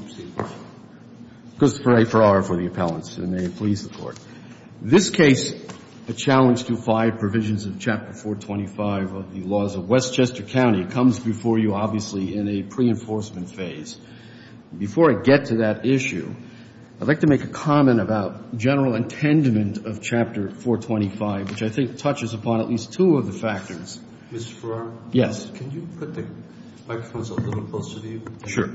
Mr. Farrar, for the appellants, and may it please the Court. This case, a challenge to five provisions of Chapter 425 of the laws of Westchester County, comes before you, obviously, in a pre-enforcement phase. Before I get to that issue, I'd like to make a comment about general intendment of Chapter 425, which I think touches upon at least two of the factors. Mr. Farrar? Yes. Can you put the microphones a little closer to you? Sure.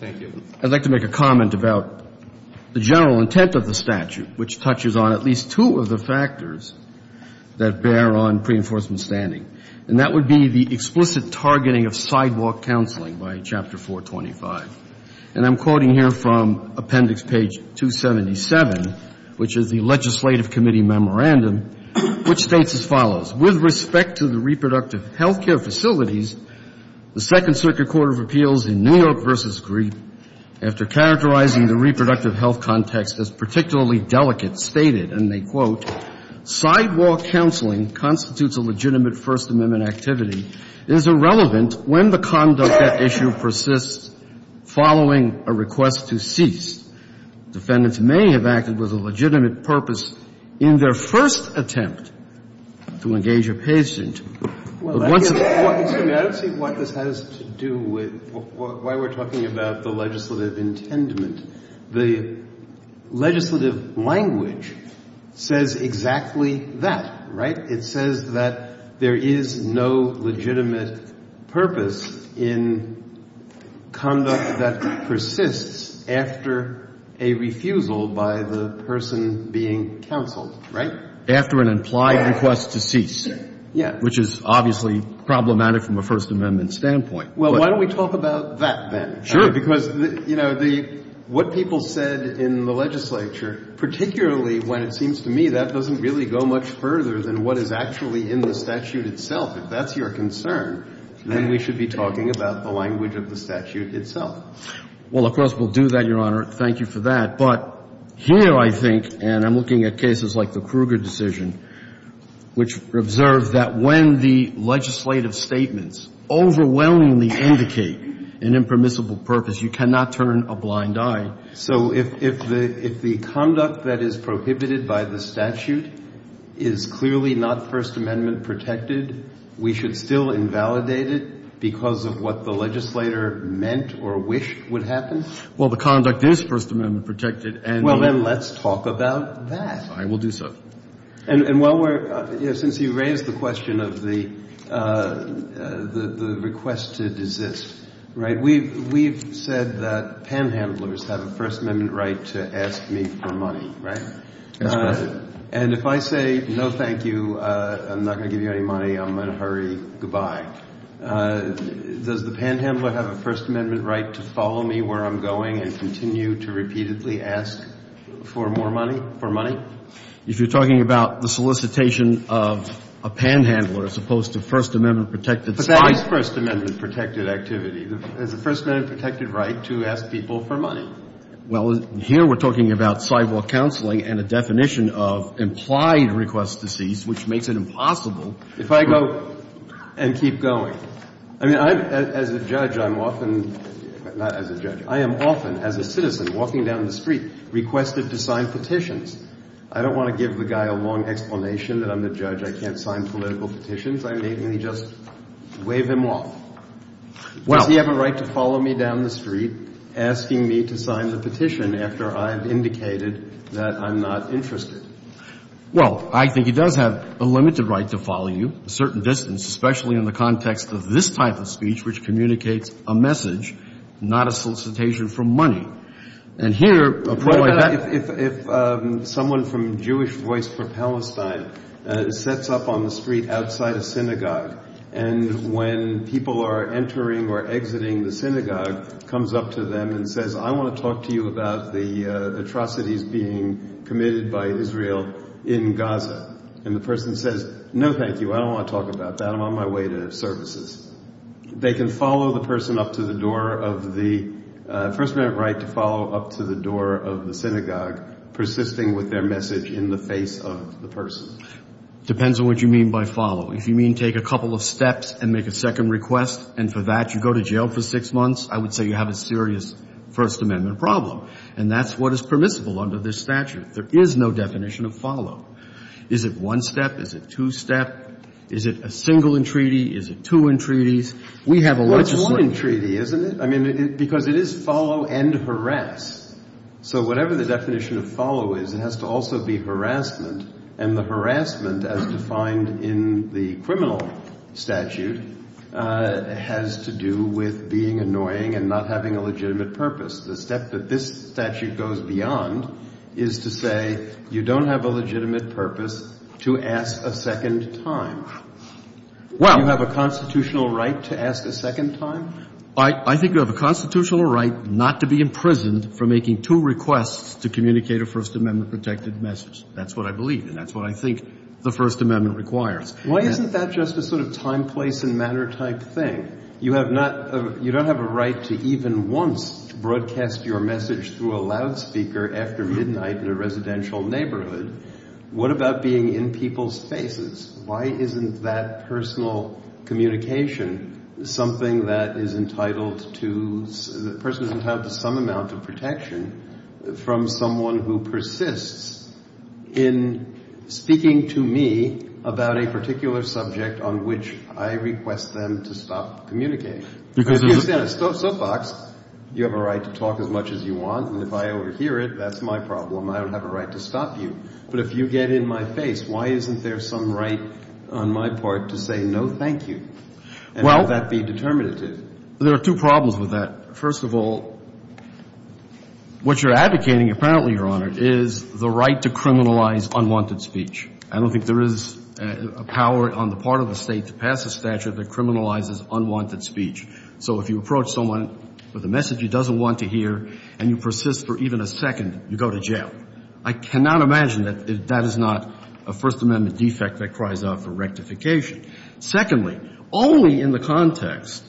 Thank you. I'd like to make a comment about the general intent of the statute, which touches on at least two of the factors that bear on pre-enforcement standing. And that would be the explicit targeting of sidewalk counseling by Chapter 425. And I'm quoting here from appendix page 277, which is the legislative committee memorandum, which states as follows. With respect to the reproductive health care facilities, the Second Circuit Court of Appeals in New York v. Greene, after characterizing the reproductive health context as particularly delicate, stated, and they quote, sidewalk counseling constitutes a legitimate First Amendment activity and is irrelevant when the conduct at issue persists following a request to cease. Defendants may have acted with a legitimate purpose in their first attempt to engage a patient. Excuse me. I don't see what this has to do with why we're talking about the legislative intendment. The legislative language says exactly that, right? It says that there is no legitimate purpose in conduct that persists after a refusal by the person being counseled, right? After an implied request to cease. Yes. Which is obviously problematic from a First Amendment standpoint. Well, why don't we talk about that then? Sure. Because, you know, what people said in the legislature, particularly when it seems to me that doesn't really go much further than what is actually in the statute itself. If that's your concern, then we should be talking about the language of the statute itself. Well, of course, we'll do that, Your Honor. Thank you for that. But here I think, and I'm looking at cases like the Kruger decision, which observed that when the legislative statements overwhelmingly indicate an impermissible purpose, you cannot turn a blind eye. So if the conduct that is prohibited by the statute is clearly not First Amendment protected, we should still invalidate it because of what the legislator meant or wished would happen? Well, the conduct is First Amendment protected. Well, then let's talk about that. I will do so. And while we're – since you raised the question of the request to desist, right, we've said that panhandlers have a First Amendment right to ask me for money, right? That's correct. And if I say, no, thank you, I'm not going to give you any money, I'm going to hurry. Goodbye. Does the panhandler have a First Amendment right to follow me where I'm going and continue to repeatedly ask for more money – for money? If you're talking about the solicitation of a panhandler as opposed to First Amendment protected – But that is First Amendment protected activity. There's a First Amendment protected right to ask people for money. Well, here we're talking about sidewalk counseling and a definition of implied request to cease, which makes it impossible – If I go and keep going. I mean, I'm – as a judge, I'm often – not as a judge. I am often, as a citizen walking down the street, requested to sign petitions. I don't want to give the guy a long explanation that I'm the judge. I can't sign political petitions. I may just wave him off. Does he have a right to follow me down the street asking me to sign the petition after I've indicated that I'm not interested? Well, I think he does have a limited right to follow you a certain distance, especially in the context of this type of speech, which communicates a message, not a solicitation for money. And here – If someone from Jewish Voice for Palestine sets up on the street outside a synagogue and when people are entering or exiting the synagogue, comes up to them and says, I want to talk to you about the atrocities being committed by Israel in Gaza. And the person says, no, thank you. I don't want to talk about that. I'm on my way to services. They can follow the person up to the door of the – a First Amendment right to follow up to the door of the synagogue, persisting with their message in the face of the person. Depends on what you mean by follow. If you mean take a couple of steps and make a second request and for that you go to jail for six months, I would say you have a serious First Amendment problem. And that's what is permissible under this statute. There is no definition of follow. Is it one step? Is it two step? Is it a single entreaty? Is it two entreaties? We have a – Well, it's one entreaty, isn't it? I mean, because it is follow and harass. So whatever the definition of follow is, it has to also be harassment. And the harassment as defined in the criminal statute has to do with being annoying and not having a legitimate purpose. The step that this statute goes beyond is to say you don't have a legitimate purpose to ask a second time. Do you have a constitutional right to ask a second time? I think you have a constitutional right not to be imprisoned for making two requests to communicate a First Amendment-protected message. That's what I believe. And that's what I think the First Amendment requires. Why isn't that just a sort of time, place and matter type thing? You have not – You don't have a right to even once broadcast your message through a loudspeaker after midnight in a residential neighborhood. What about being in people's faces? Why isn't that personal communication something that is entitled to – the person is entitled to some amount of protection from someone who persists in speaking to me about a particular subject on which I request them to stop communicating? So, Fox, you have a right to talk as much as you want. And if I overhear it, that's my problem. I don't have a right to stop you. But if you get in my face, why isn't there some right on my part to say no, thank you? And let that be determinative. Well, there are two problems with that. First of all, what you're advocating, apparently, Your Honor, is the right to criminalize unwanted speech. I don't think there is a power on the part of the State to pass a statute that criminalizes unwanted speech. So if you approach someone with a message you don't want to hear and you persist for even a second, you go to jail. I cannot imagine that that is not a First Amendment defect that cries out for rectification. Secondly, only in the context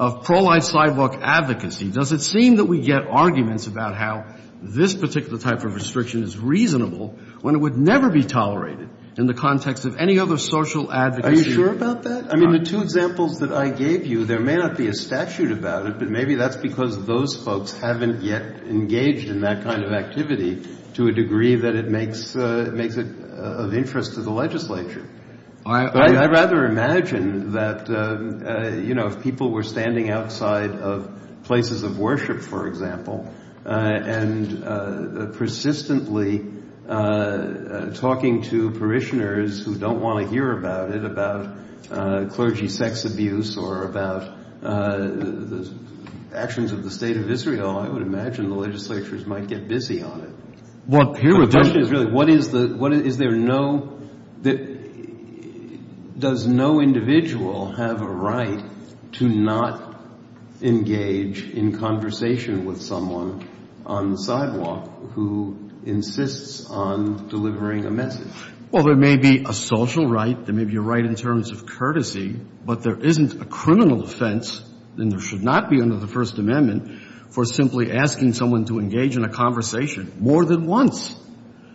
of pro-life sidewalk advocacy does it seem that we get arguments about how this particular type of restriction is reasonable when it would never be tolerated in the context of any other social advocacy. Are you sure about that? I mean, the two examples that I gave you, there may not be a statute about it, but maybe that's because those folks haven't yet engaged in that kind of activity to a degree that it makes it of interest to the legislature. I'd rather imagine that, you know, if people were standing outside of places of worship, for example, and persistently talking to parishioners who don't want to hear about it, about clergy sex abuse, or about the actions of the State of Israel, I would imagine the legislatures might get busy on it. The question is really what is the – is there no – does no individual have a right to not engage in conversation with someone on the sidewalk who insists on delivering a message? Well, there may be a social right. There may be a right in terms of courtesy. But there isn't a criminal offense, and there should not be under the First Amendment, for simply asking someone to engage in a conversation more than once.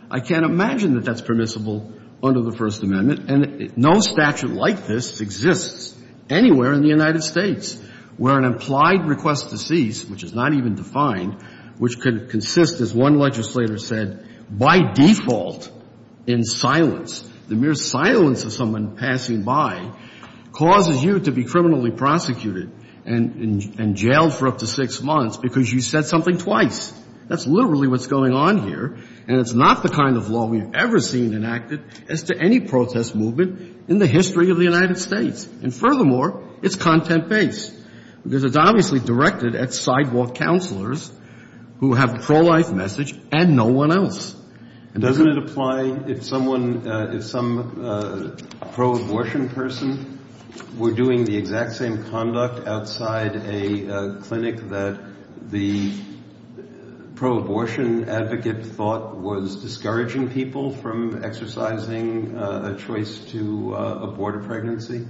I can't imagine that that's permissible under the First Amendment. And no statute like this exists anywhere in the United States where an implied request to cease, which is not even defined, which could consist, as one legislator said, by default in silence, the mere silence of someone passing by causes you to be criminally prosecuted and jailed for up to six months because you said something twice. That's literally what's going on here. And it's not the kind of law we've ever seen enacted as to any protest movement in the history of the United States. And furthermore, it's content-based because it's obviously directed at sidewalk counselors who have a pro-life message and no one else. Doesn't it apply if someone, if some pro-abortion person were doing the exact same conduct outside a clinic that the pro-abortion advocate thought was discouraging people from exercising a choice to abort a pregnancy?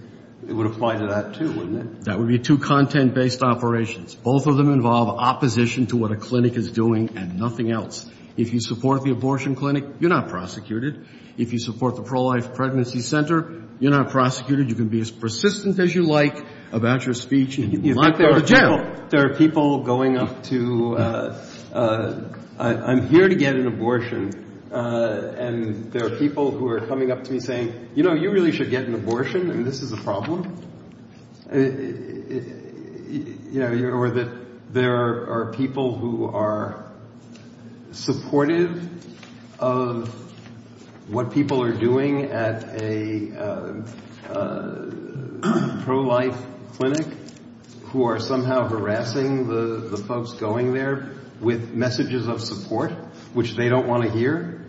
It would apply to that, too, wouldn't it? That would be two content-based operations. Both of them involve opposition to what a clinic is doing and nothing else. If you support the abortion clinic, you're not prosecuted. If you support the pro-life pregnancy center, you're not prosecuted. You can be as persistent as you like about your speech and you might go to jail. There are people going up to, I'm here to get an abortion, and there are people who are coming up to me saying, you know, you really should get an abortion and this is a problem. You know, or that there are people who are supportive of what people are doing at a pro-life clinic who are somehow harassing the folks going there with messages of support which they don't want to hear.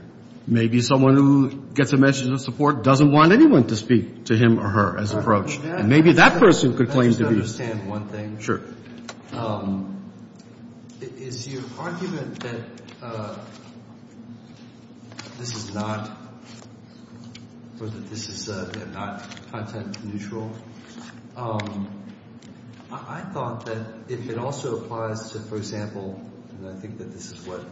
Maybe someone who gets a message of support doesn't want anyone to speak to him or her as an approach. And maybe that person could claim to be. Let me just understand one thing. Sure. Is your argument that this is not content-neutral? I thought that if it also applies to, for example, and I think that this is what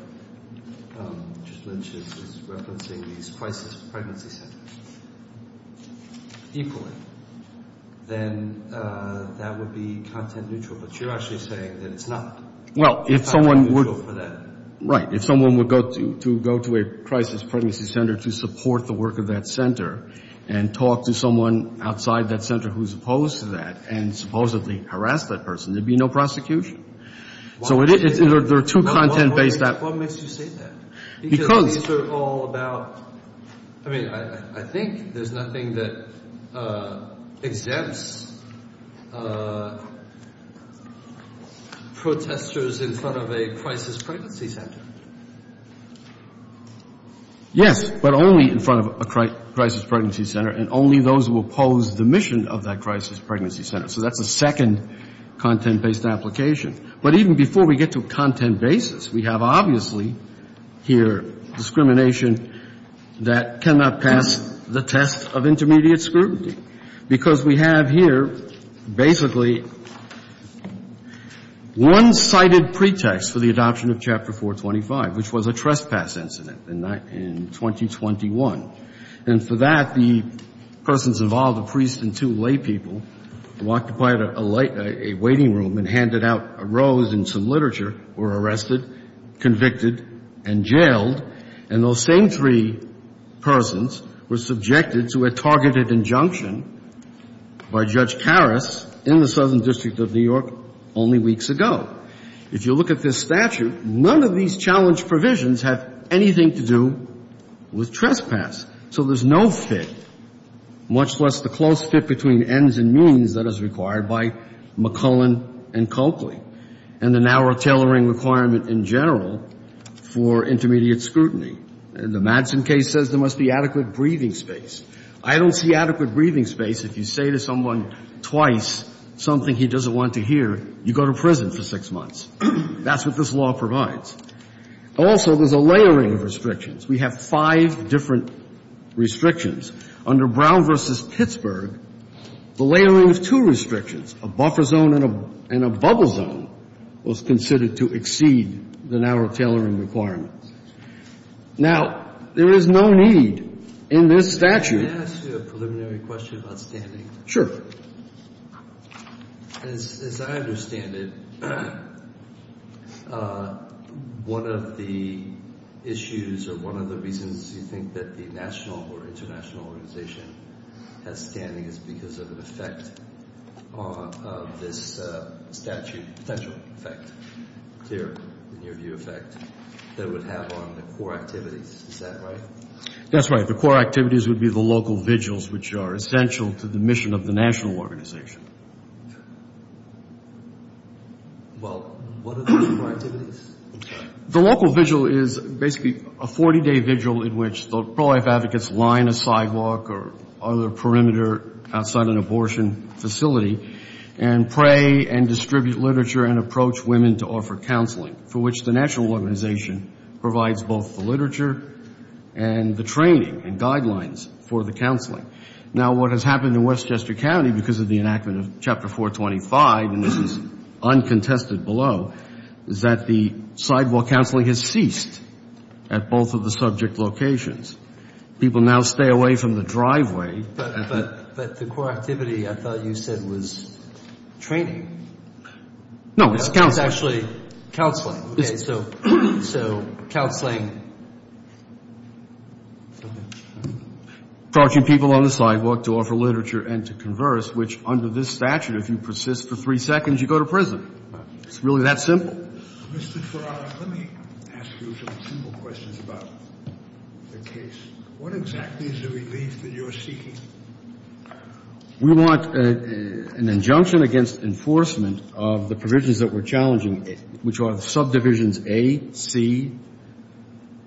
just Lynch is referencing, these crisis pregnancy centers equally, then that would be content-neutral. But you're actually saying that it's not. Well, if someone would go to a crisis pregnancy center to support the work of that center and talk to someone outside that center who's opposed to that and supposedly harass that person, there'd be no prosecution. So there are two content-based that. What makes you say that? Because. Because these are all about, I mean, I think there's nothing that exempts protesters in front of a crisis pregnancy center. Yes, but only in front of a crisis pregnancy center and only those who oppose the mission of that crisis pregnancy center. So that's a second content-based application. But even before we get to a content basis, we have obviously here discrimination that cannot pass the test of intermediate scrutiny. Because we have here basically one cited pretext for the adoption of Chapter 425, which was a trespass incident in 2021. And for that, the persons involved, a priest and two laypeople, were occupied at a waiting room and handed out a rose and some literature, were arrested, convicted and jailed. And those same three persons were subjected to a targeted injunction by Judge Karras in the Southern District of New York only weeks ago. If you look at this statute, none of these challenge provisions have anything to do with trespass. So there's no fit, much less the close fit between ends and means that is required by McClellan and Coakley. And the narrower tailoring requirement in general for intermediate scrutiny. The Madsen case says there must be adequate breathing space. I don't see adequate breathing space. If you say to someone twice something he doesn't want to hear, you go to prison for six months. That's what this law provides. Also, there's a layering of restrictions. We have five different restrictions. Under Brown v. Pittsburgh, the layering of two restrictions, a buffer zone and a bubble zone, was considered to exceed the narrow tailoring requirements. Now, there is no need in this statute. Can I ask you a preliminary question about standing? Sure. As I understand it, one of the issues or one of the reasons you think that the national or international organization has standing is because of an effect of this statute, potential effect, near view effect that it would have on the core activities. Is that right? That's right. The core activities would be the local vigils, which are essential to the mission of the national organization. Well, what are those core activities? The local vigil is basically a 40-day vigil in which the pro-life advocates line a sidewalk or other perimeter outside an abortion facility and pray and distribute literature and approach women to offer counseling, for which the national organization provides both the literature and the training and guidelines for the counseling. Now, what has happened in Westchester County because of the enactment of Chapter 425, and this is uncontested below, is that the sidewalk counseling has ceased at both of the subject locations. People now stay away from the driveway. But the core activity I thought you said was training. No, it's counseling. It's actually counseling. Okay. So counseling. Approaching people on the sidewalk to offer literature and to converse, which under this statute if you persist for three seconds, you go to prison. It's really that simple. Mr. Ferraro, let me ask you some simple questions about the case. What exactly is the relief that you're seeking? We want an injunction against enforcement of the provisions that we're challenging, which are the subdivisions A, C,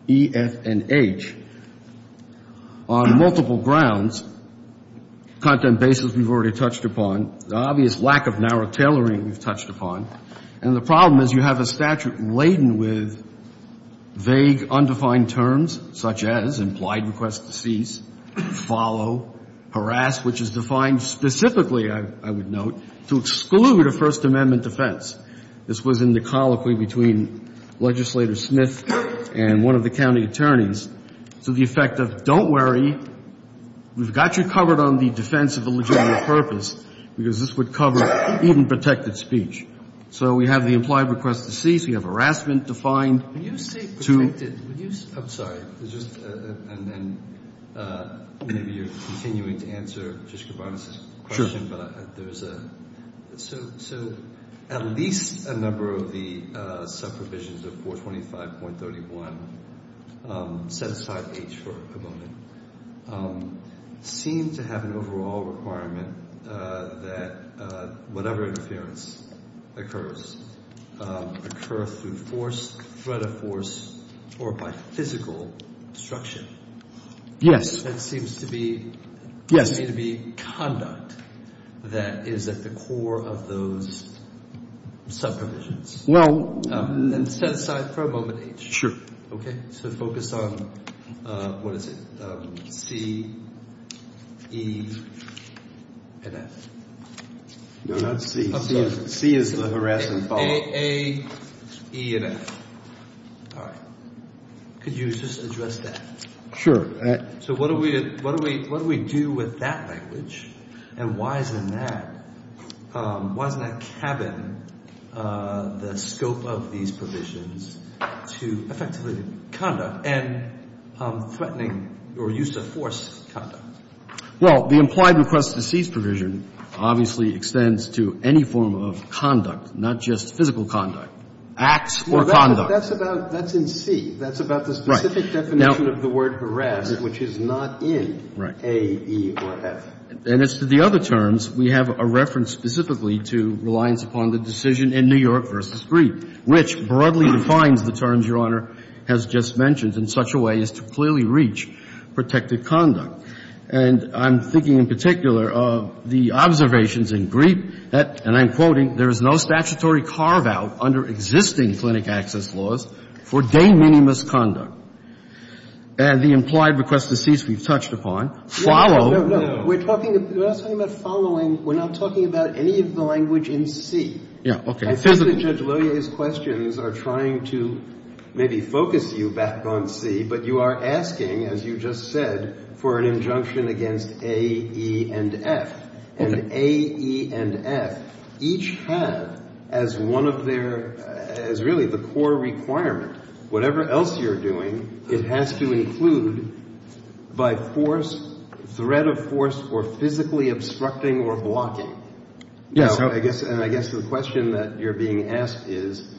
E, F, and H. On multiple grounds, content basis we've already touched upon, the obvious lack of narrow tailoring we've touched upon, and the problem is you have a statute laden with vague, undefined terms, such as implied request to cease, follow, harass, which is defined specifically, I would note, to exclude a First Amendment defense. This was in the colloquy between Legislator Smith and one of the county attorneys. So the effect of don't worry, we've got you covered on the defense of a legitimate purpose because this would cover even protected speech. So we have the implied request to cease. We have harassment defined. Can you say protected? I'm sorry. Just and then maybe you're continuing to answer Justice Kavanaugh's question. Sure. So at least a number of the subdivisions of 425.31, set aside H for a moment, seem to have an overall requirement that whatever interference occurs, occur through force, threat of force, or by physical obstruction. Yes. That seems to be. Yes. That seems to be conduct that is at the core of those subdivisions. Well. And set aside for a moment H. Sure. Okay. So focus on, what is it, C, E, and F. No, not C. C is the harass and follow. A, E, and F. All right. Could you just address that? Sure. So what do we do with that language? And why is it in that? Why doesn't that cabin the scope of these provisions to effectively conduct and threatening or use of force conduct? Well, the implied request to cease provision obviously extends to any form of conduct, not just physical conduct. Acts or conduct. That's in C. That's about the specific definition of the word harass, which is not in A, E, or F. And as to the other terms, we have a reference specifically to reliance upon the decision in New York v. Griep, which broadly defines the terms Your Honor has just mentioned in such a way as to clearly reach protected conduct. And I'm thinking in particular of the observations in Griep that, and I'm quoting, there is no statutory carve-out under existing clinic access laws for de minimis conduct. And the implied request to cease we've touched upon. Follow. No, no, no. We're talking about following. We're not talking about any of the language in C. Yeah, okay. I think that Judge Loyer's questions are trying to maybe focus you back on C, but you are asking, as you just said, for an injunction against A, E, and F. And A, E, and F each have as one of their, as really the core requirement, whatever else you're doing, it has to include by force, threat of force, or physically obstructing or blocking. Yes, Your Honor. And I guess the question that you're being asked is,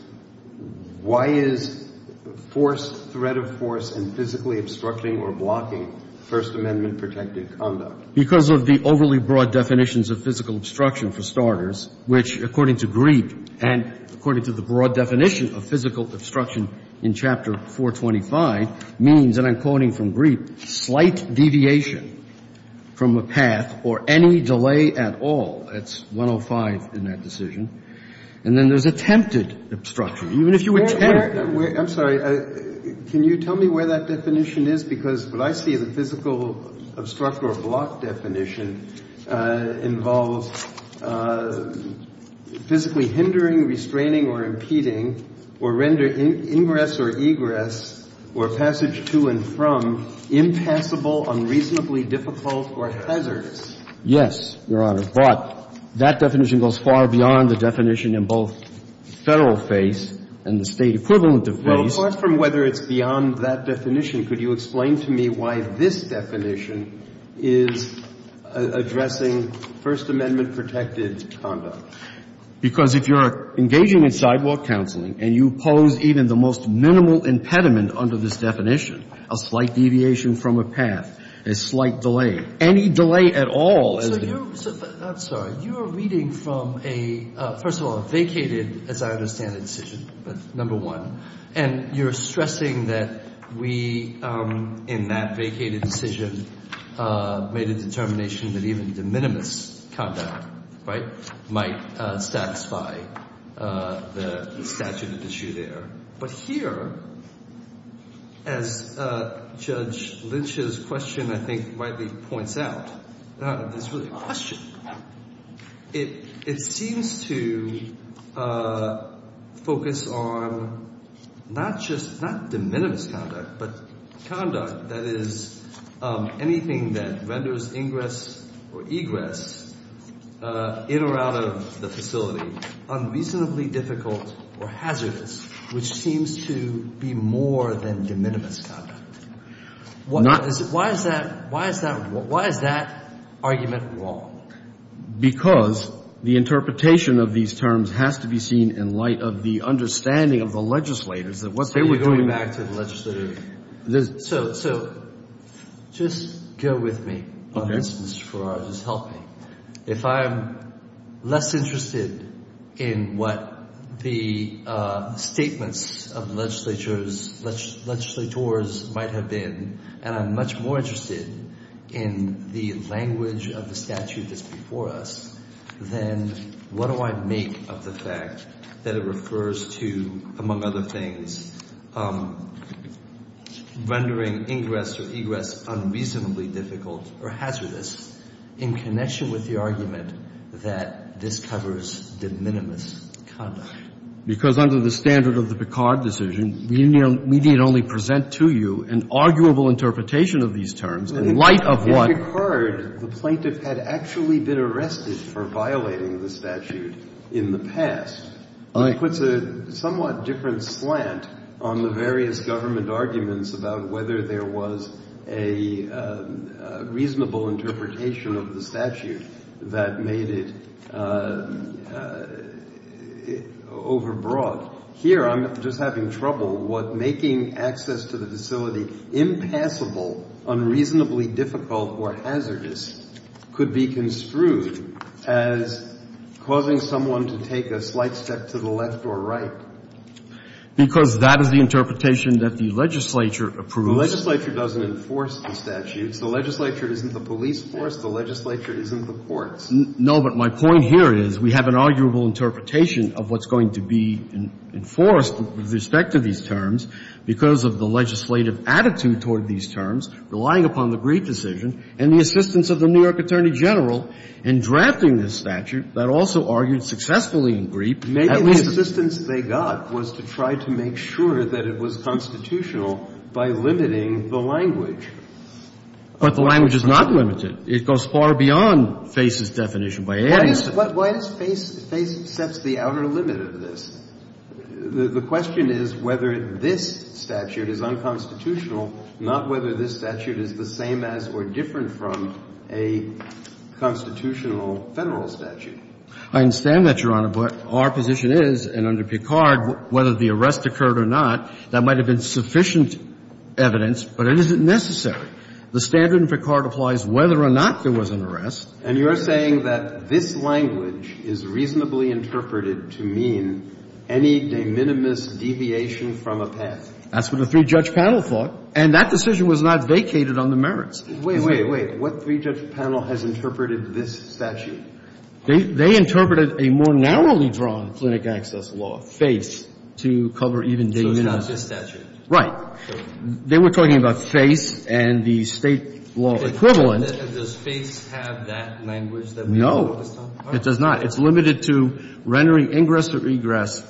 why is force, threat of force, and physically obstructing or blocking First Amendment protected conduct? Because of the overly broad definitions of physical obstruction, for starters, which, according to Griep, and according to the broad definition of physical obstruction in Chapter 425, means, and I'm quoting from Griep, slight deviation from a path or any delay at all. That's 105 in that decision. And then there's attempted obstruction. Even if you attempt to. I'm sorry. Can you tell me where that definition is? Because what I see in the physical obstruct or block definition involves physically hindering, restraining, or impeding, or rendering ingress or egress, or passage to and from, impassable, unreasonably difficult, or hazardous. Yes, Your Honor. But that definition goes far beyond the definition in both Federal phase and the State equivalent of phase. Well, apart from whether it's beyond that definition, could you explain to me why this definition is addressing First Amendment protected conduct? Because if you're engaging in sidewalk counseling and you pose even the most minimal impediment under this definition, a slight deviation from a path, a slight delay, any delay at all. I'm sorry. You are reading from a, first of all, a vacated, as I understand it, decision, but number one. And you're stressing that we, in that vacated decision, made a determination that even de minimis conduct, right, might satisfy the statute of issue there. But here, as Judge Lynch's question, I think, rightly points out, this really It seems to focus on not just, not de minimis conduct, but conduct that is anything that renders ingress or egress in or out of the facility unreasonably difficult or hazardous, which seems to be more than de minimis conduct. Why is that argument wrong? Because the interpretation of these terms has to be seen in light of the understanding of the legislators that once they were doing Are you going back to the legislative? So, just go with me on this, Mr. Farrar. Just help me. If I'm less interested in what the statements of the legislatures, legislators might have been, and I'm much more interested in the language of the statute that's before us, then what do I make of the fact that it refers to, among other things, rendering ingress or egress unreasonably difficult or hazardous in connection with the argument that this covers de minimis conduct? Because under the standard of the Picard decision, we need only present to you an arguable interpretation of these terms in light of what In Picard, the plaintiff had actually been arrested for violating the statute in the past, which puts a somewhat different slant on the various government arguments about whether there was a reasonable interpretation of the statute that made it overbroad. Here, I'm just having trouble what making access to the facility impassable, unreasonably difficult or hazardous could be construed as causing someone to take a slight step to the left or right. Because that is the interpretation that the legislature approves The legislature doesn't enforce the statutes. The legislature isn't the police force. The legislature isn't the courts. No, but my point here is we have an arguable interpretation of what's going to be enforced with respect to these terms because of the legislative attitude toward these terms, relying upon the Griep decision and the assistance of the New York Attorney General in drafting this statute that also argued successfully in Griep. Maybe the assistance they got was to try to make sure that it was constitutional by limiting the language. But the language is not limited. It goes far beyond FASE's definition. Why does FASE set the outer limit of this? The question is whether this statute is unconstitutional, not whether this statute is the same as or different from a constitutional Federal statute. I understand that, Your Honor. But our position is, and under Picard, whether the arrest occurred or not, that might have been sufficient evidence, but it isn't necessary. The standard in Picard applies whether or not there was an arrest. And you're saying that this language is reasonably interpreted to mean any de minimis deviation from a path. That's what the three-judge panel thought. And that decision was not vacated on the merits. Wait, wait, wait. What three-judge panel has interpreted this statute? They interpreted a more narrowly drawn clinic access law, FASE, to cover even de minimis. So it's not this statute? Right. They were talking about FASE and the State law equivalent. And does FASE have that language that we're talking about this time? No, it does not. It's limited to rendering ingress or regress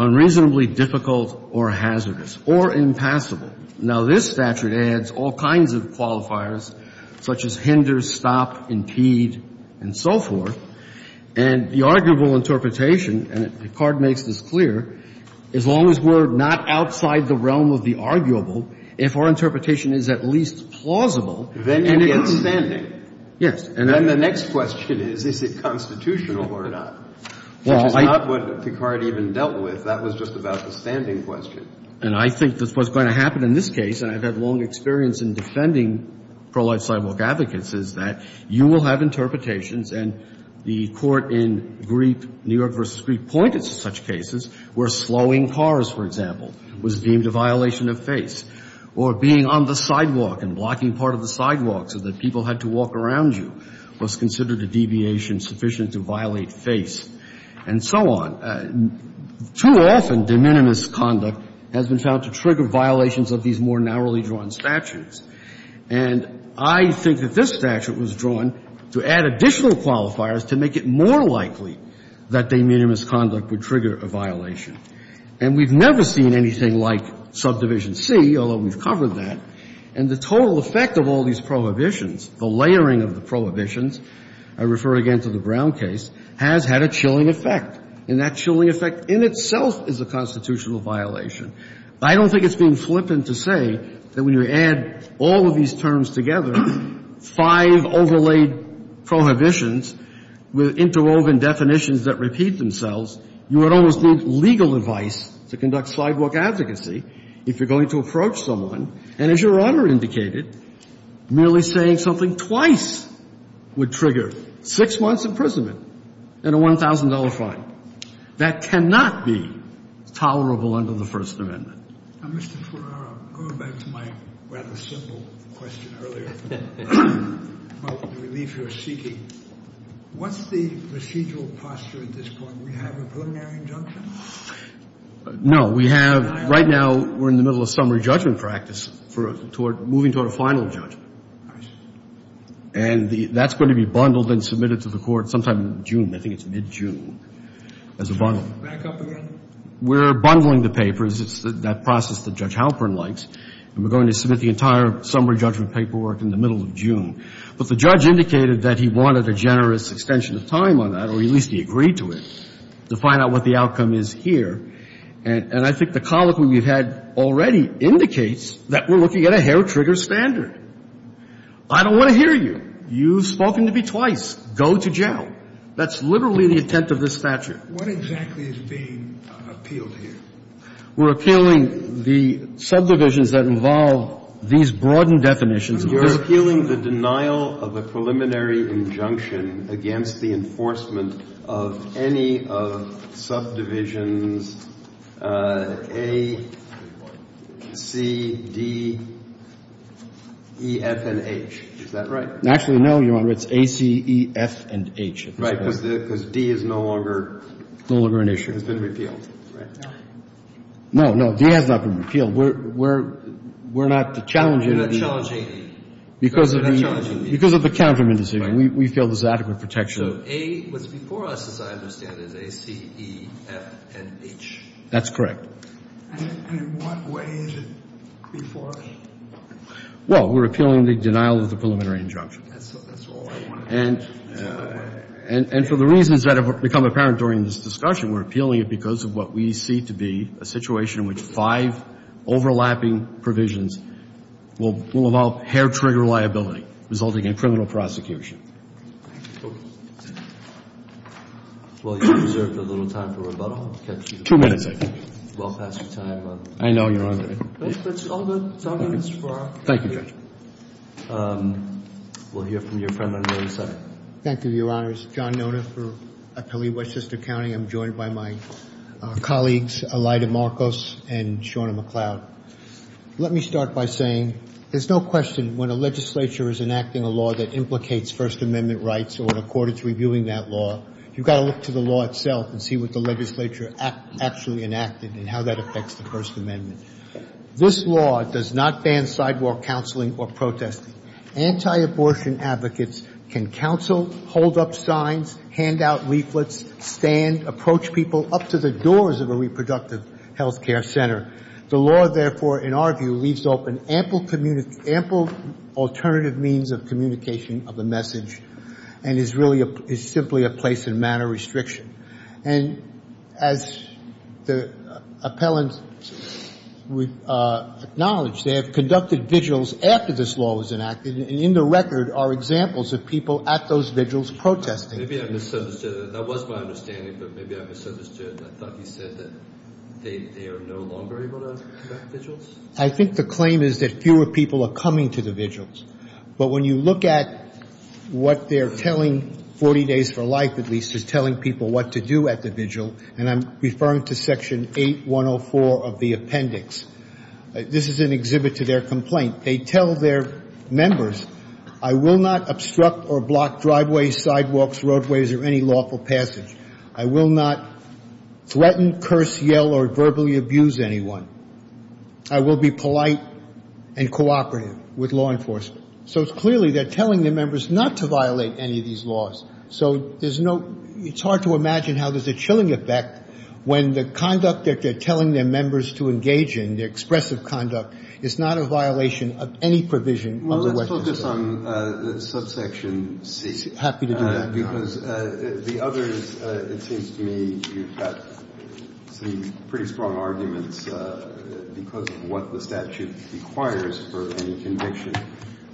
unreasonably difficult or hazardous or impassable. Now, this statute adds all kinds of qualifiers, such as hinder, stop, impede, and so forth. And the arguable interpretation, and Picard makes this clear, as long as we're not outside the realm of the arguable, if our interpretation is at least plausible, then it is standing. Yes. And then the next question is, is it constitutional or not? Well, I don't know. Which is not what Picard even dealt with. That was just about the standing question. And I think that's what's going to happen in this case, and I've had long experience in defending pro-life sidewalk advocates, is that you will have interpretations and the court in Griep, New York v. Griep, pointed to such cases where slowing cars, for example, was deemed a violation of FASE, or being on the sidewalk and blocking part of the sidewalk so that people had to walk around you was considered a deviation sufficient to violate FASE, and so on. Too often, de minimis conduct has been found to trigger violations of these more And I think that this statute was drawn to add additional qualifiers to make it more likely that de minimis conduct would trigger a violation. And we've never seen anything like subdivision C, although we've covered that. And the total effect of all these prohibitions, the layering of the prohibitions, I refer again to the Brown case, has had a chilling effect. And that chilling effect in itself is a constitutional violation. I don't think it's being flippant to say that when you add all of these terms together, five overlaid prohibitions with interwoven definitions that repeat themselves, you would almost need legal advice to conduct sidewalk advocacy if you're going to approach someone, and as Your Honor indicated, merely saying something twice would trigger six months' imprisonment and a $1,000 fine. That cannot be tolerable under the First Amendment. Now, Mr. Furman, I'll go back to my rather simple question earlier about the relief you're seeking. What's the procedural posture at this point? Do we have a preliminary injunction? No. We have, right now, we're in the middle of summary judgment practice for moving toward a final judgment. I see. And that's going to be bundled and submitted to the Court sometime in June. I think it's mid-June as a bundle. Back up again. We're bundling the papers. It's that process that Judge Halpern likes. And we're going to submit the entire summary judgment paperwork in the middle of June. But the judge indicated that he wanted a generous extension of time on that, or at least he agreed to it, to find out what the outcome is here. And I think the comment we've had already indicates that we're looking at a hair-trigger standard. I don't want to hear you. You've spoken to me twice. Go to jail. That's literally the intent of this statute. What exactly is being appealed here? We're appealing the subdivisions that involve these broadened definitions. You're appealing the denial of a preliminary injunction against the enforcement of any of subdivisions A, C, D, E, F, and H. Is that right? Actually, no, Your Honor. It's A, C, E, F, and H at this point. Right. Because D is no longer an issue. It's been repealed. No, no. D has not been repealed. We're not challenging it. You're not challenging it. Because of the counterman decision. Right. We feel there's adequate protection. So A was before us, as I understand it, is A, C, E, F, and H. That's correct. And in what way is it before us? Well, we're appealing the denial of the preliminary injunction. That's all I want to know. And for the reasons that have become apparent during this discussion, we're appealing it because of what we see to be a situation in which five overlapping provisions will involve hair-trigger liability, resulting in criminal prosecution. Okay. Well, you've reserved a little time for rebuttal. I'll catch you. Two minutes, I think. It's well past your time. I know, Your Honor. But it's all good. It's all good. Thank you, Judge. We'll hear from your friend on the other side. Thank you, Your Honors. John Noda for Atelier Westchester County. I'm joined by my colleagues, Elida Marcos and Shauna McLeod. Let me start by saying there's no question when a legislature is enacting a law that implicates First Amendment rights or the court is reviewing that law, you've got to look to the law itself and see what the legislature actually enacted and how that affects the First Amendment. This law does not ban sidewalk counseling or protesting. Anti-abortion advocates can counsel, hold up signs, hand out leaflets, stand, approach people up to the doors of a reproductive health care center. The law, therefore, in our view, leaves open ample alternative means of communication of a message and is simply a place and manner restriction. And as the appellant acknowledged, they have conducted vigils after this law was enacted, and in the record are examples of people at those vigils protesting. Maybe I misunderstood. That was my understanding, but maybe I misunderstood. I thought he said that they are no longer able to conduct vigils. I think the claim is that fewer people are coming to the vigils. But when you look at what they're telling 40 Days for Life, at least, is telling people what to do at the vigil, and I'm referring to Section 8104 of the appendix, this is an exhibit to their complaint. They tell their members, I will not obstruct or block driveways, sidewalks, roadways, or any lawful passage. I will not threaten, curse, yell, or verbally abuse anyone. I will be polite and cooperative with law enforcement. So it's clearly they're telling their members not to violate any of these laws. So there's no – it's hard to imagine how there's a chilling effect when the conduct that they're telling their members to engage in, their expressive conduct, is not a violation of any provision of the Western State. I guess I'm – subsection C. I'm happy to do that, Your Honor. Because the others, it seems to me, you've got some pretty strong arguments because of what the statute requires for any conviction.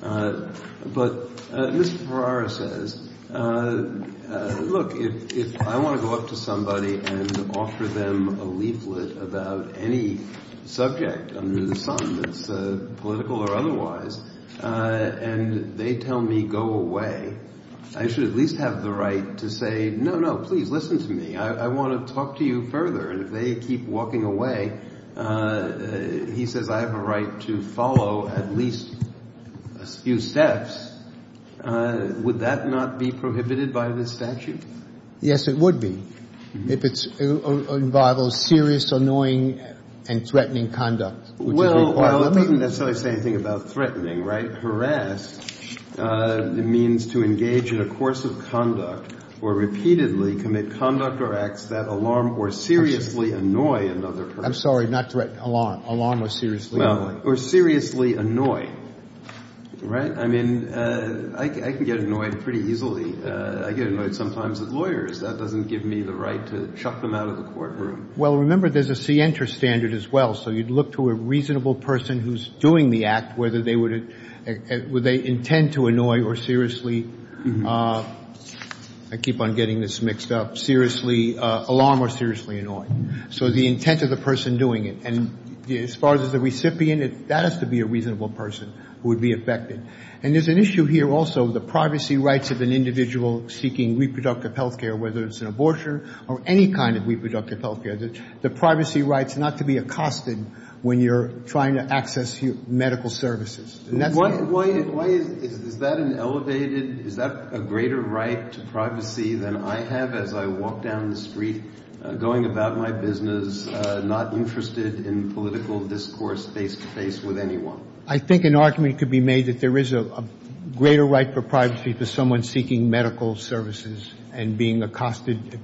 But Mr. Ferrara says, look, if I want to go up to somebody and offer them a leaflet about any subject under the sun that's political or otherwise, and they tell me go away, I should at least have the right to say, no, no, please listen to me. I want to talk to you further. And if they keep walking away, he says I have a right to follow at least a few steps. Would that not be prohibited by this statute? Yes, it would be. If it involves serious, annoying, and threatening conduct, which is required. Well, it doesn't necessarily say anything about threatening, right? Harass means to engage in a course of conduct or repeatedly commit conduct or acts that alarm or seriously annoy another person. I'm sorry, not threaten, alarm. Alarm or seriously annoy. Well, or seriously annoy, right? I mean, I can get annoyed pretty easily. I get annoyed sometimes with lawyers. That doesn't give me the right to chuck them out of the courtroom. Well, remember, there's a C-enter standard as well. So you'd look to a reasonable person who's doing the act, whether they would, would they intend to annoy or seriously, I keep on getting this mixed up, seriously, alarm or seriously annoy. So the intent of the person doing it. And as far as the recipient, that has to be a reasonable person who would be affected. And there's an issue here also with the privacy rights of an individual seeking reproductive health care, whether it's an abortion or any kind of reproductive health care, the privacy rights not to be accosted when you're trying to access medical services. Why is that an elevated, is that a greater right to privacy than I have as I walk down the street, going about my business, not interested in political discourse face to face with anyone? Well, I think an argument could be made that there is a greater right for privacy for someone seeking medical services and being accosted.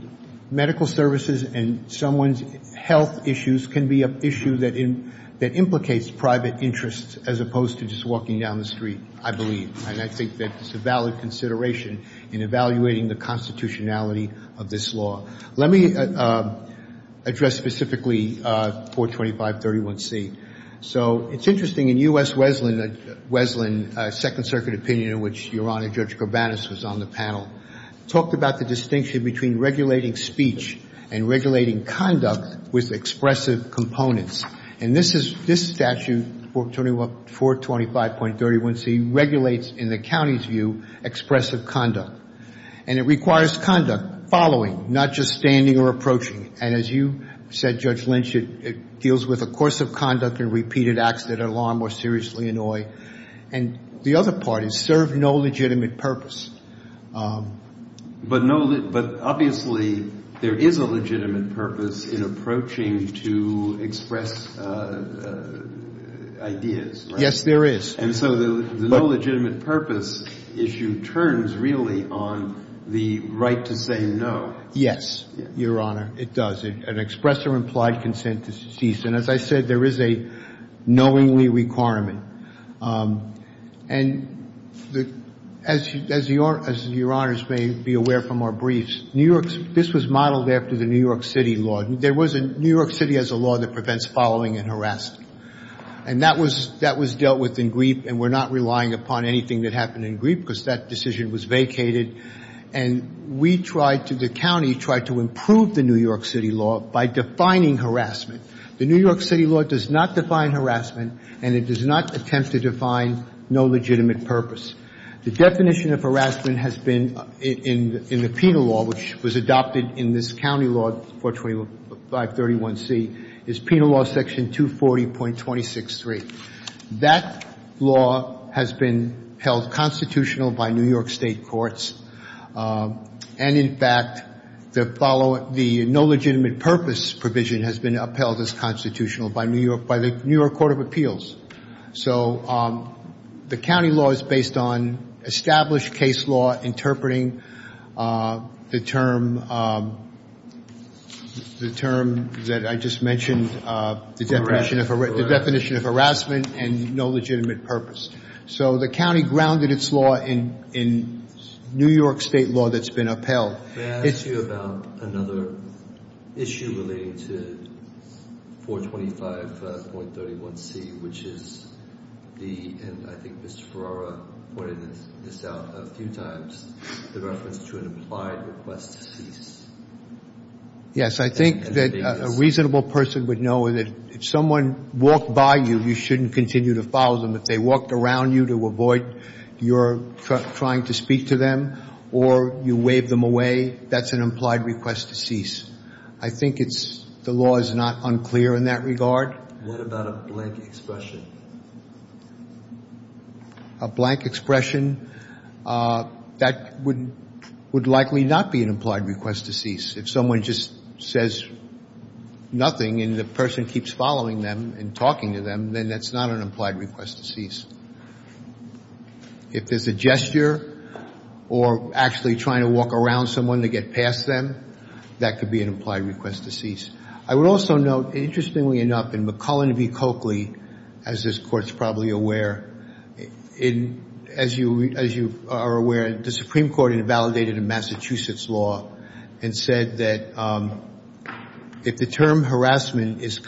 Medical services and someone's health issues can be an issue that implicates private interests as opposed to just walking down the street, I believe. And I think that's a valid consideration in evaluating the constitutionality of this law. Let me address specifically 42531C. So it's interesting. In U.S. Wesleyan, a second circuit opinion in which Your Honor, Judge Corbanus was on the panel, talked about the distinction between regulating speech and regulating conduct with expressive components. And this statute, 425.31C, regulates in the county's view expressive conduct. And it requires conduct, following, not just standing or approaching. And as you said, Judge Lynch, it deals with a course of conduct and repeated acts that alarm or seriously annoy. And the other part is serve no legitimate purpose. But obviously there is a legitimate purpose in approaching to express ideas, right? Yes, there is. And so the no legitimate purpose issue turns really on the right to say no. Yes, Your Honor, it does. An express or implied consent is deceased. And as I said, there is a knowingly requirement. And as Your Honors may be aware from our briefs, this was modeled after the New York City law. New York City has a law that prevents following and harassment. And that was dealt with in Griep. And we're not relying upon anything that happened in Griep because that decision was vacated. And we tried to, the county tried to improve the New York City law by defining harassment. The New York City law does not define harassment. And it does not attempt to define no legitimate purpose. The definition of harassment has been in the penal law, which was adopted in this county law, 425.31C, is penal law section 240.263. That law has been held constitutional by New York State courts. And, in fact, the no legitimate purpose provision has been upheld as constitutional by the New York Court of Appeals. So the county law is based on established case law interpreting the term that I just mentioned, the definition of harassment and no legitimate purpose. So the county grounded its law in New York State law that's been upheld. May I ask you about another issue relating to 425.31C, which is the, and I think Mr. Ferrara pointed this out a few times, the reference to an implied request to cease. Yes, I think that a reasonable person would know that if someone walked by you, you shouldn't continue to follow them. If they walked around you to avoid your trying to speak to them or you waved them away, that's an implied request to cease. I think it's, the law is not unclear in that regard. What about a blank expression? A blank expression, that would likely not be an implied request to cease. If someone just says nothing and the person keeps following them and talking to them, then that's not an implied request to cease. If there's a gesture or actually trying to walk around someone to get past them, that could be an implied request to cease. I would also note, interestingly enough, in McCullen v. Coakley, as this Court's probably aware, as you are aware, the Supreme Court invalidated a Massachusetts law and said that if the term harassment is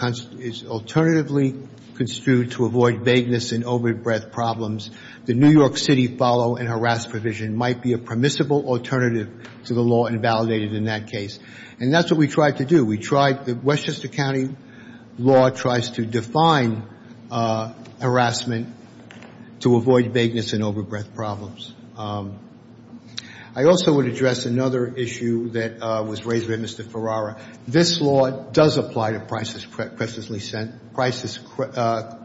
alternatively construed to avoid vagueness and over-the-breath problems, the New York City follow and harass provision might be a permissible alternative to the law invalidated in that case. And that's what we tried to do. We tried, the Westchester County law tries to define harassment to avoid vagueness and over-breath problems. I also would address another issue that was raised by Mr. Ferrara. This law does apply to crisis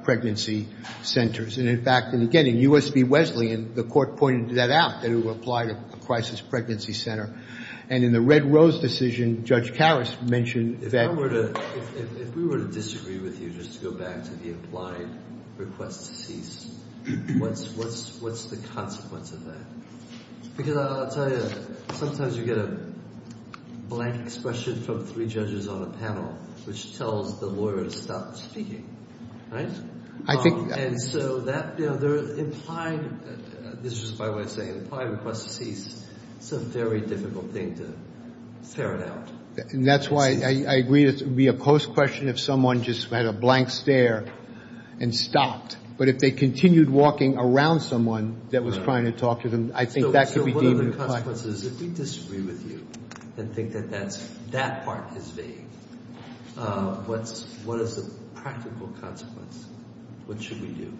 pregnancy centers. And, in fact, again, in U.S. v. Wesleyan, the Court pointed that out, that it would apply to a crisis pregnancy center. And in the Red Rose decision, Judge Karas mentioned that— If we were to disagree with you, just to go back to the implied request to cease, what's the consequence of that? Because I'll tell you, sometimes you get a blank expression from three judges on a panel which tells the lawyer to stop speaking, right? I think— And so that—implied—this is just my way of saying it—implied request to cease is a very difficult thing to ferret out. And that's why I agree it would be a post-question if someone just had a blank stare and stopped. But if they continued walking around someone that was trying to talk to them, I think that could be deemed— If we disagree with you and think that that part is vague, what is the practical consequence? What should we do?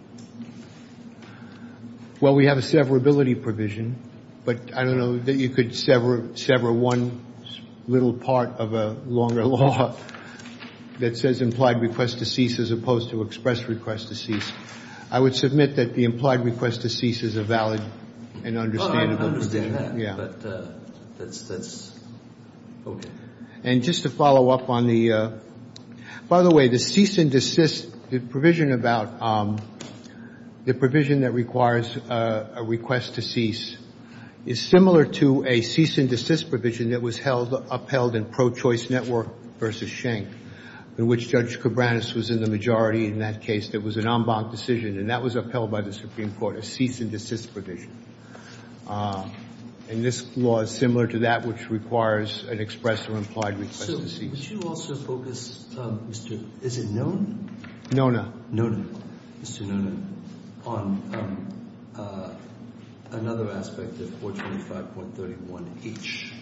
Well, we have a severability provision. But I don't know that you could sever one little part of a longer law that says implied request to cease as opposed to express request to cease. I would submit that the implied request to cease is a valid and understandable provision. I understand that, but that's okay. And just to follow up on the—by the way, the cease and desist—the provision about—the provision that requires a request to cease is similar to a cease and desist provision that was upheld in Pro Choice Network v. Schenck, in which Judge Cabranes was in the majority in that case. There was an en banc decision, and that was upheld by the Supreme Court, a cease and desist provision. And this law is similar to that, which requires an express or implied request to cease. So would you also focus, Mr.—is it Nona? Nona. Nona. Mr. Nona, on another aspect of 425.31H—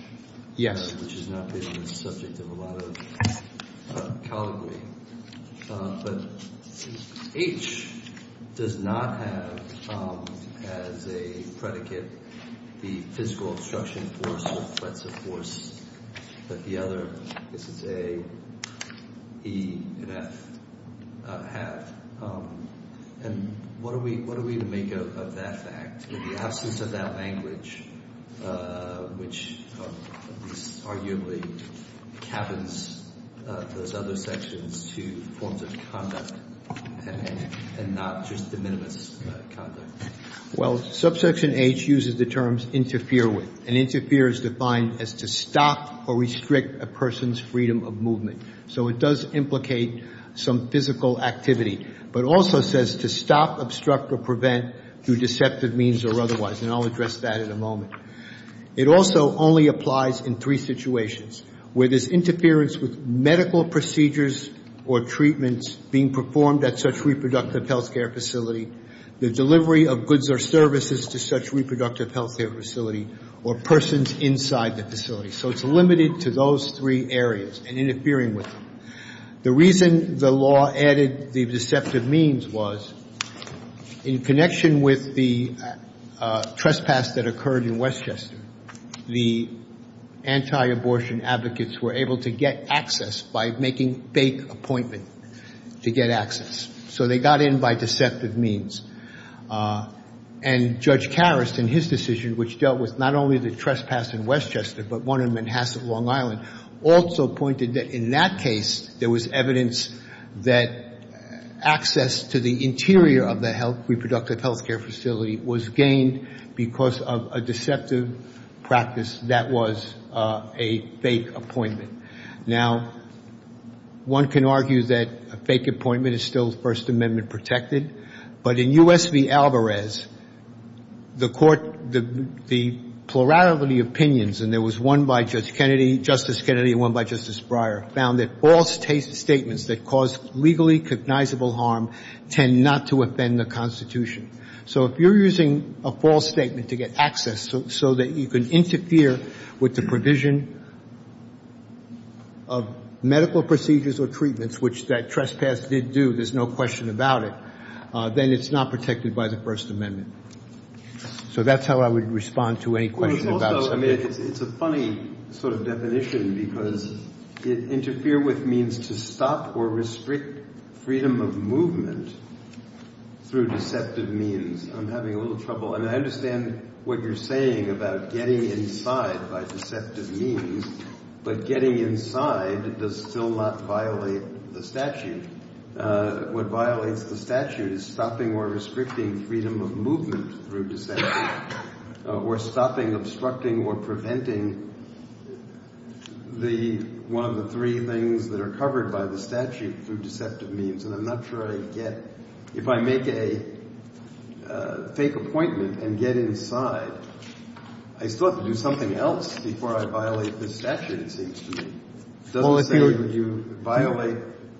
Yes. —which has not been the subject of a lot of colloquy, but H does not have as a predicate the physical obstruction force or threats of force that the other—this is A, E, and F have. And what do we make of that fact? In the absence of that language, which arguably cabins those other sections to forms of conduct and not just de minimis conduct. Well, subsection H uses the terms interfere with. And interfere is defined as to stop or restrict a person's freedom of movement. So it does implicate some physical activity, but also says to stop, obstruct, or prevent through deceptive means or otherwise. And I'll address that in a moment. It also only applies in three situations, where there's interference with medical procedures or treatments being performed at such reproductive health care facility, the delivery of goods or services to such reproductive health care facility, or persons inside the facility. So it's limited to those three areas and interfering with them. The reason the law added the deceptive means was in connection with the trespass that occurred in Westchester, the anti-abortion advocates were able to get access by making fake appointments to get access. So they got in by deceptive means. And Judge Karras, in his decision, which dealt with not only the trespass in Westchester, but one in Manhasset, Long Island, also pointed that in that case, there was evidence that access to the interior of the reproductive health care facility was gained because of a deceptive practice that was a fake appointment. Now, one can argue that a fake appointment is still First Amendment protected. But in U.S. v. Alvarez, the court, the plurality of opinions, and there was one by Judge Kennedy, Justice Kennedy, and one by Justice Breyer, found that false statements that cause legally cognizable harm tend not to offend the Constitution. So if you're using a false statement to get access so that you can interfere with the provision of medical procedures or treatments, which that trespass did do, there's no question about it, then it's not protected by the First Amendment. So that's how I would respond to any question about it. It's a funny sort of definition because it interfered with means to stop or restrict freedom of movement through deceptive means. I'm having a little trouble. And I understand what you're saying about getting inside by deceptive means. But getting inside does still not violate the statute. What violates the statute is stopping or restricting freedom of movement through deceptive means or stopping, obstructing, or preventing one of the three things that are covered by the statute through deceptive means. And I'm not sure I get – if I make a fake appointment and get inside, I still have to do something else before I violate the statute, it seems to me. It doesn't say that you violate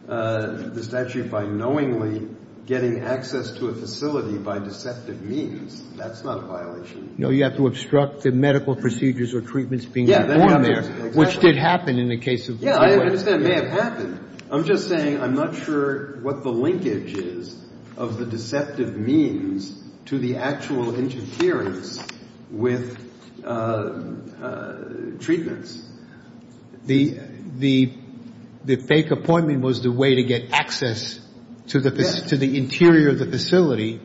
the statute by knowingly getting access to a facility by deceptive means. That's not a violation. No, you have to obstruct the medical procedures or treatments being performed there, which did happen in the case of the subway. Yes, I understand. It may have happened. I'm just saying I'm not sure what the linkage is of the deceptive means to the actual interference with treatments. The fake appointment was the way to get access to the interior of the facility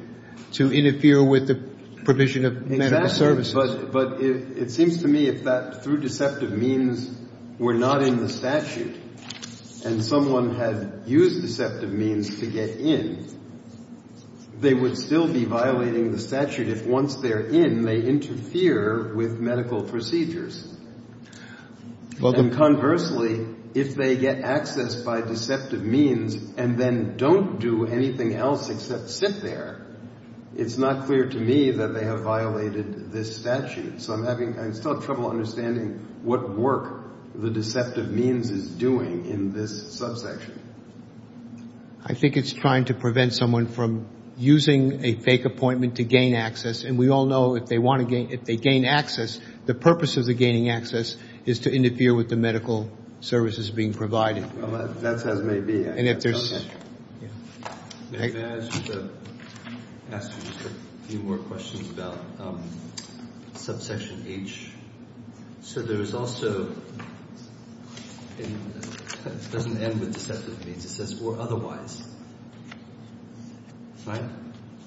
to interfere with the provision of medical services. Exactly. But it seems to me if that through deceptive means were not in the statute and someone had used deceptive means to get in, they would still be violating the statute if once they're in, they interfere with medical procedures. And conversely, if they get access by deceptive means and then don't do anything else except sit there, it's not clear to me that they have violated this statute. So I'm still having trouble understanding what work the deceptive means is doing in this subsection. I think it's trying to prevent someone from using a fake appointment to gain access. And we all know if they gain access, the purpose of the gaining access is to interfere with the medical services being provided. That's as may be. May I ask you a few more questions about subsection H? So there is also, it doesn't end with deceptive means, it says or otherwise, right?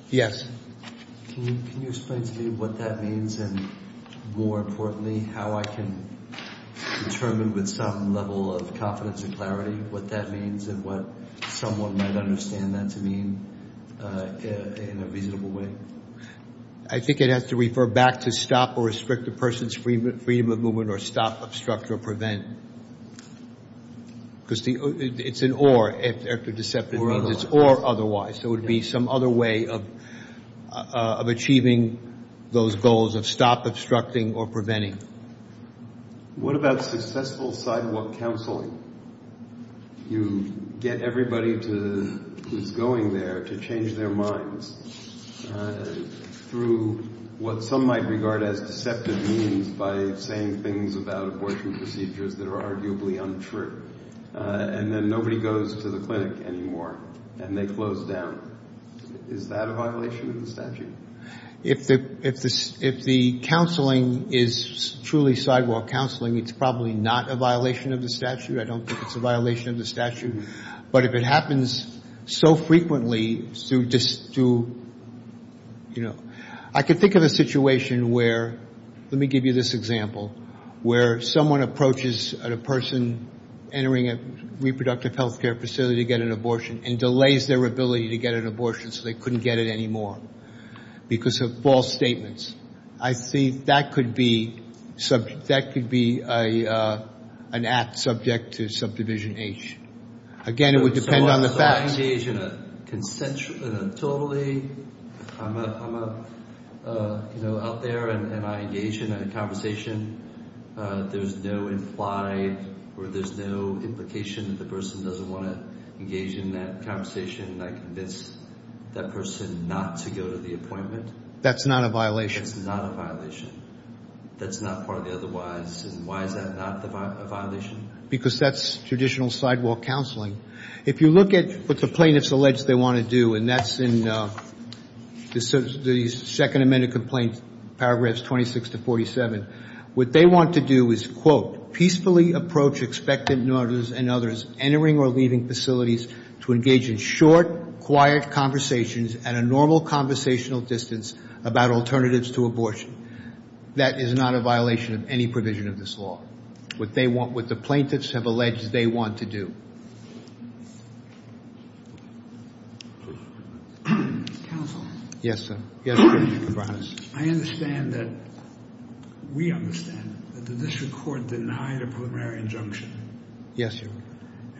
Yes. Can you explain to me what that means and more importantly, how I can determine with some level of confidence and clarity what that means and what someone might understand that to mean in a reasonable way? I think it has to refer back to stop or restrict a person's freedom of movement or stop, obstruct, or prevent. Because it's an or after deceptive means. Or otherwise. So it would be some other way of achieving those goals of stop, obstructing, or preventing. What about successful sidewalk counseling? You get everybody who's going there to change their minds through what some might regard as deceptive means by saying things about abortion procedures that are arguably untrue. And then nobody goes to the clinic anymore and they close down. Is that a violation of the statute? If the counseling is truly sidewalk counseling, it's probably not a violation of the statute. I don't think it's a violation of the statute. But if it happens so frequently through, you know, I can think of a situation where, let me give you this example, where someone approaches a person entering a reproductive health care facility to get an abortion and delays their ability to get an abortion so they couldn't get it anymore because of false statements. I think that could be an act subject to subdivision H. Again, it would depend on the facts. I engage in a totally, you know, I'm out there and I engage in a conversation. There's no implied or there's no implication that the person doesn't want to engage in that conversation and I convince that person not to go to the appointment. That's not a violation? That's not a violation. That's not part of the otherwise. And why is that not a violation? Because that's traditional sidewalk counseling. If you look at what the plaintiffs allege they want to do, and that's in the Second Amendment complaint, paragraphs 26 to 47, what they want to do is, quote, peacefully approach expectant mothers and others entering or leaving facilities to engage in short, quiet conversations at a normal conversational distance about alternatives to abortion. That is not a violation of any provision of this law. What the plaintiffs have alleged they want to do. Counsel? Yes, sir. I understand that we understand that the district court denied a preliminary injunction. Yes, Your Honor.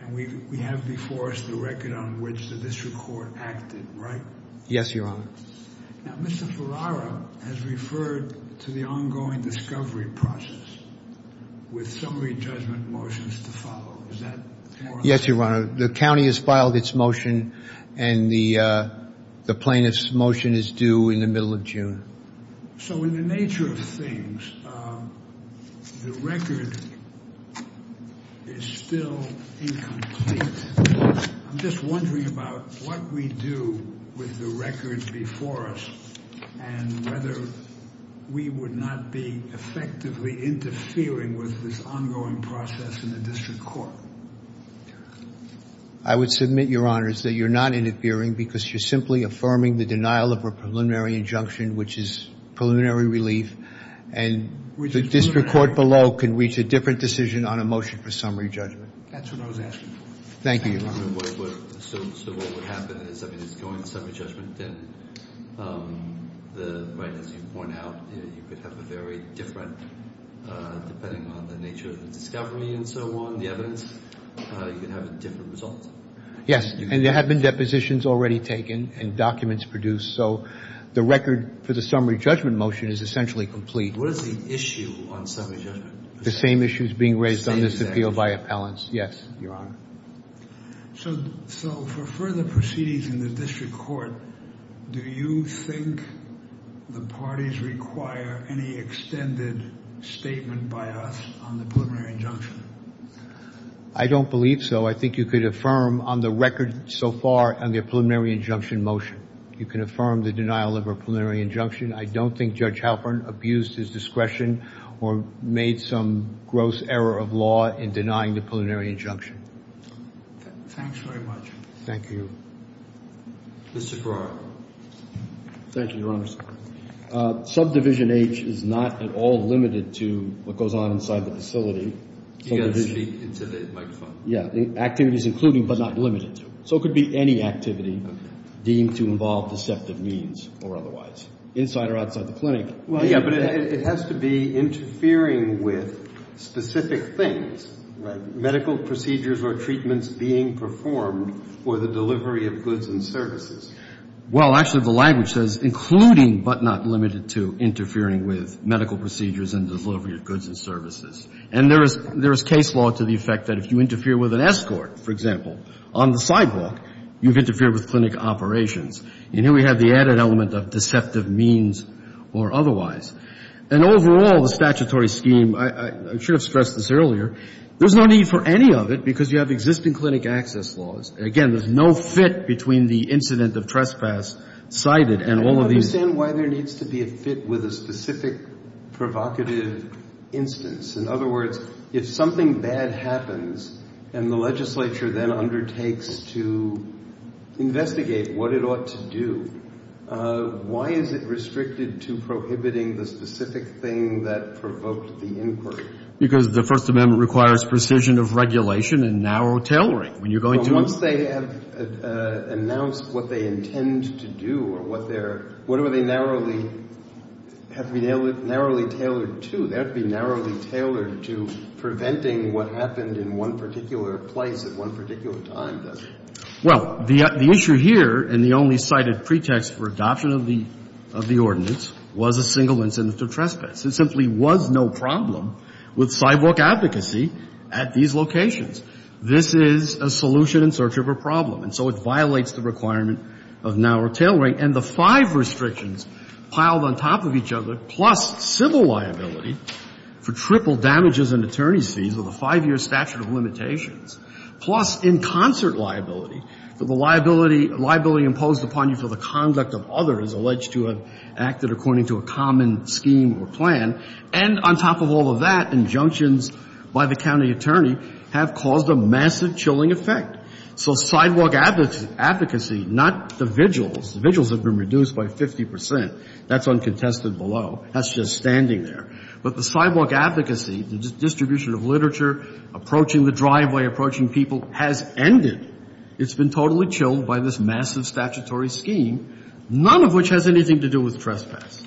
And we have before us the record on which the district court acted, right? Yes, Your Honor. Now, Mr. Ferrara has referred to the ongoing discovery process with summary judgment motions to follow. Is that correct? Yes, Your Honor. The county has filed its motion and the plaintiff's motion is due in the middle of June. So in the nature of things, the record is still incomplete. I'm just wondering about what we do with the records before us and whether we would not be effectively interfering with this ongoing process in the district court. I would submit, Your Honors, that you're not interfering because you're simply affirming the denial of a preliminary injunction, which is preliminary relief, and the district court below can reach a different decision on a motion for summary judgment. That's what I was asking for. Thank you, Your Honor. So what would happen is, I mean, it's going to summary judgment, and as you point out, you could have a very different, depending on the nature of the discovery and so on, the evidence, you could have a different result. Yes, and there have been depositions already taken and documents produced, so the record for the summary judgment motion is essentially complete. What is the issue on summary judgment? The same issues being raised on this appeal by appellants. Yes, Your Honor. So for further proceedings in the district court, do you think the parties require any extended statement by us on the preliminary injunction? I don't believe so. I think you could affirm on the record so far on the preliminary injunction motion. You can affirm the denial of a preliminary injunction. I don't think Judge Halpern abused his discretion or made some gross error of law in denying the preliminary injunction. Thanks very much. Thank you. Mr. Brewer. Thank you, Your Honor. Subdivision H is not at all limited to what goes on inside the facility. You've got to speak into the microphone. Yeah. The activity is included, but not limited to. So it could be any activity deemed to involve deceptive means or otherwise, inside or outside the clinic. Well, yeah, but it has to be interfering with specific things. Right. Medical procedures or treatments being performed for the delivery of goods and services. Well, actually, the language says including, but not limited to, interfering with medical procedures and delivery of goods and services. And there is case law to the effect that if you interfere with an escort, for example, on the sidewalk, you've interfered with clinic operations. And here we have the added element of deceptive means or otherwise. And overall, the statutory scheme, I should have stressed this earlier, there's no need for any of it because you have existing clinic access laws. Again, there's no fit between the incident of trespass cited and all of these. I don't understand why there needs to be a fit with a specific provocative instance. In other words, if something bad happens, and the legislature then undertakes to investigate what it ought to do, why is it restricted to prohibiting the specific thing that provoked the inquiry? Because the First Amendment requires precision of regulation and narrow tailoring. Once they have announced what they intend to do or whatever they narrowly have to be narrowly tailored to, that would be narrowly tailored to preventing what happened in one particular place at one particular time, doesn't it? Well, the issue here and the only cited pretext for adoption of the ordinance was a single incident of trespass. There simply was no problem with sidewalk advocacy at these locations. This is a solution in search of a problem. And so it violates the requirement of narrow tailoring. And the five restrictions piled on top of each other, plus civil liability for triple damages and attorney's fees with a five-year statute of limitations, plus in concert liability for the liability imposed upon you for the conduct of others alleged to have acted according to a common scheme or plan, and on top of all of that, injunctions by the county attorney, have caused a massive chilling effect. So sidewalk advocacy, not the vigils. The vigils have been reduced by 50 percent. That's uncontested below. That's just standing there. But the sidewalk advocacy, the distribution of literature, approaching the driveway, approaching people, has ended. It's been totally chilled by this massive statutory scheme, none of which has anything to do with trespass.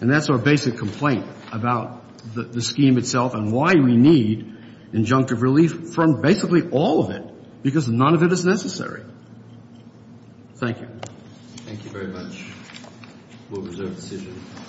And that's our basic complaint about the scheme itself and why we need injunctive relief from basically all of it, because none of it is necessary. Thank you. Thank you very much. We'll reserve the decision.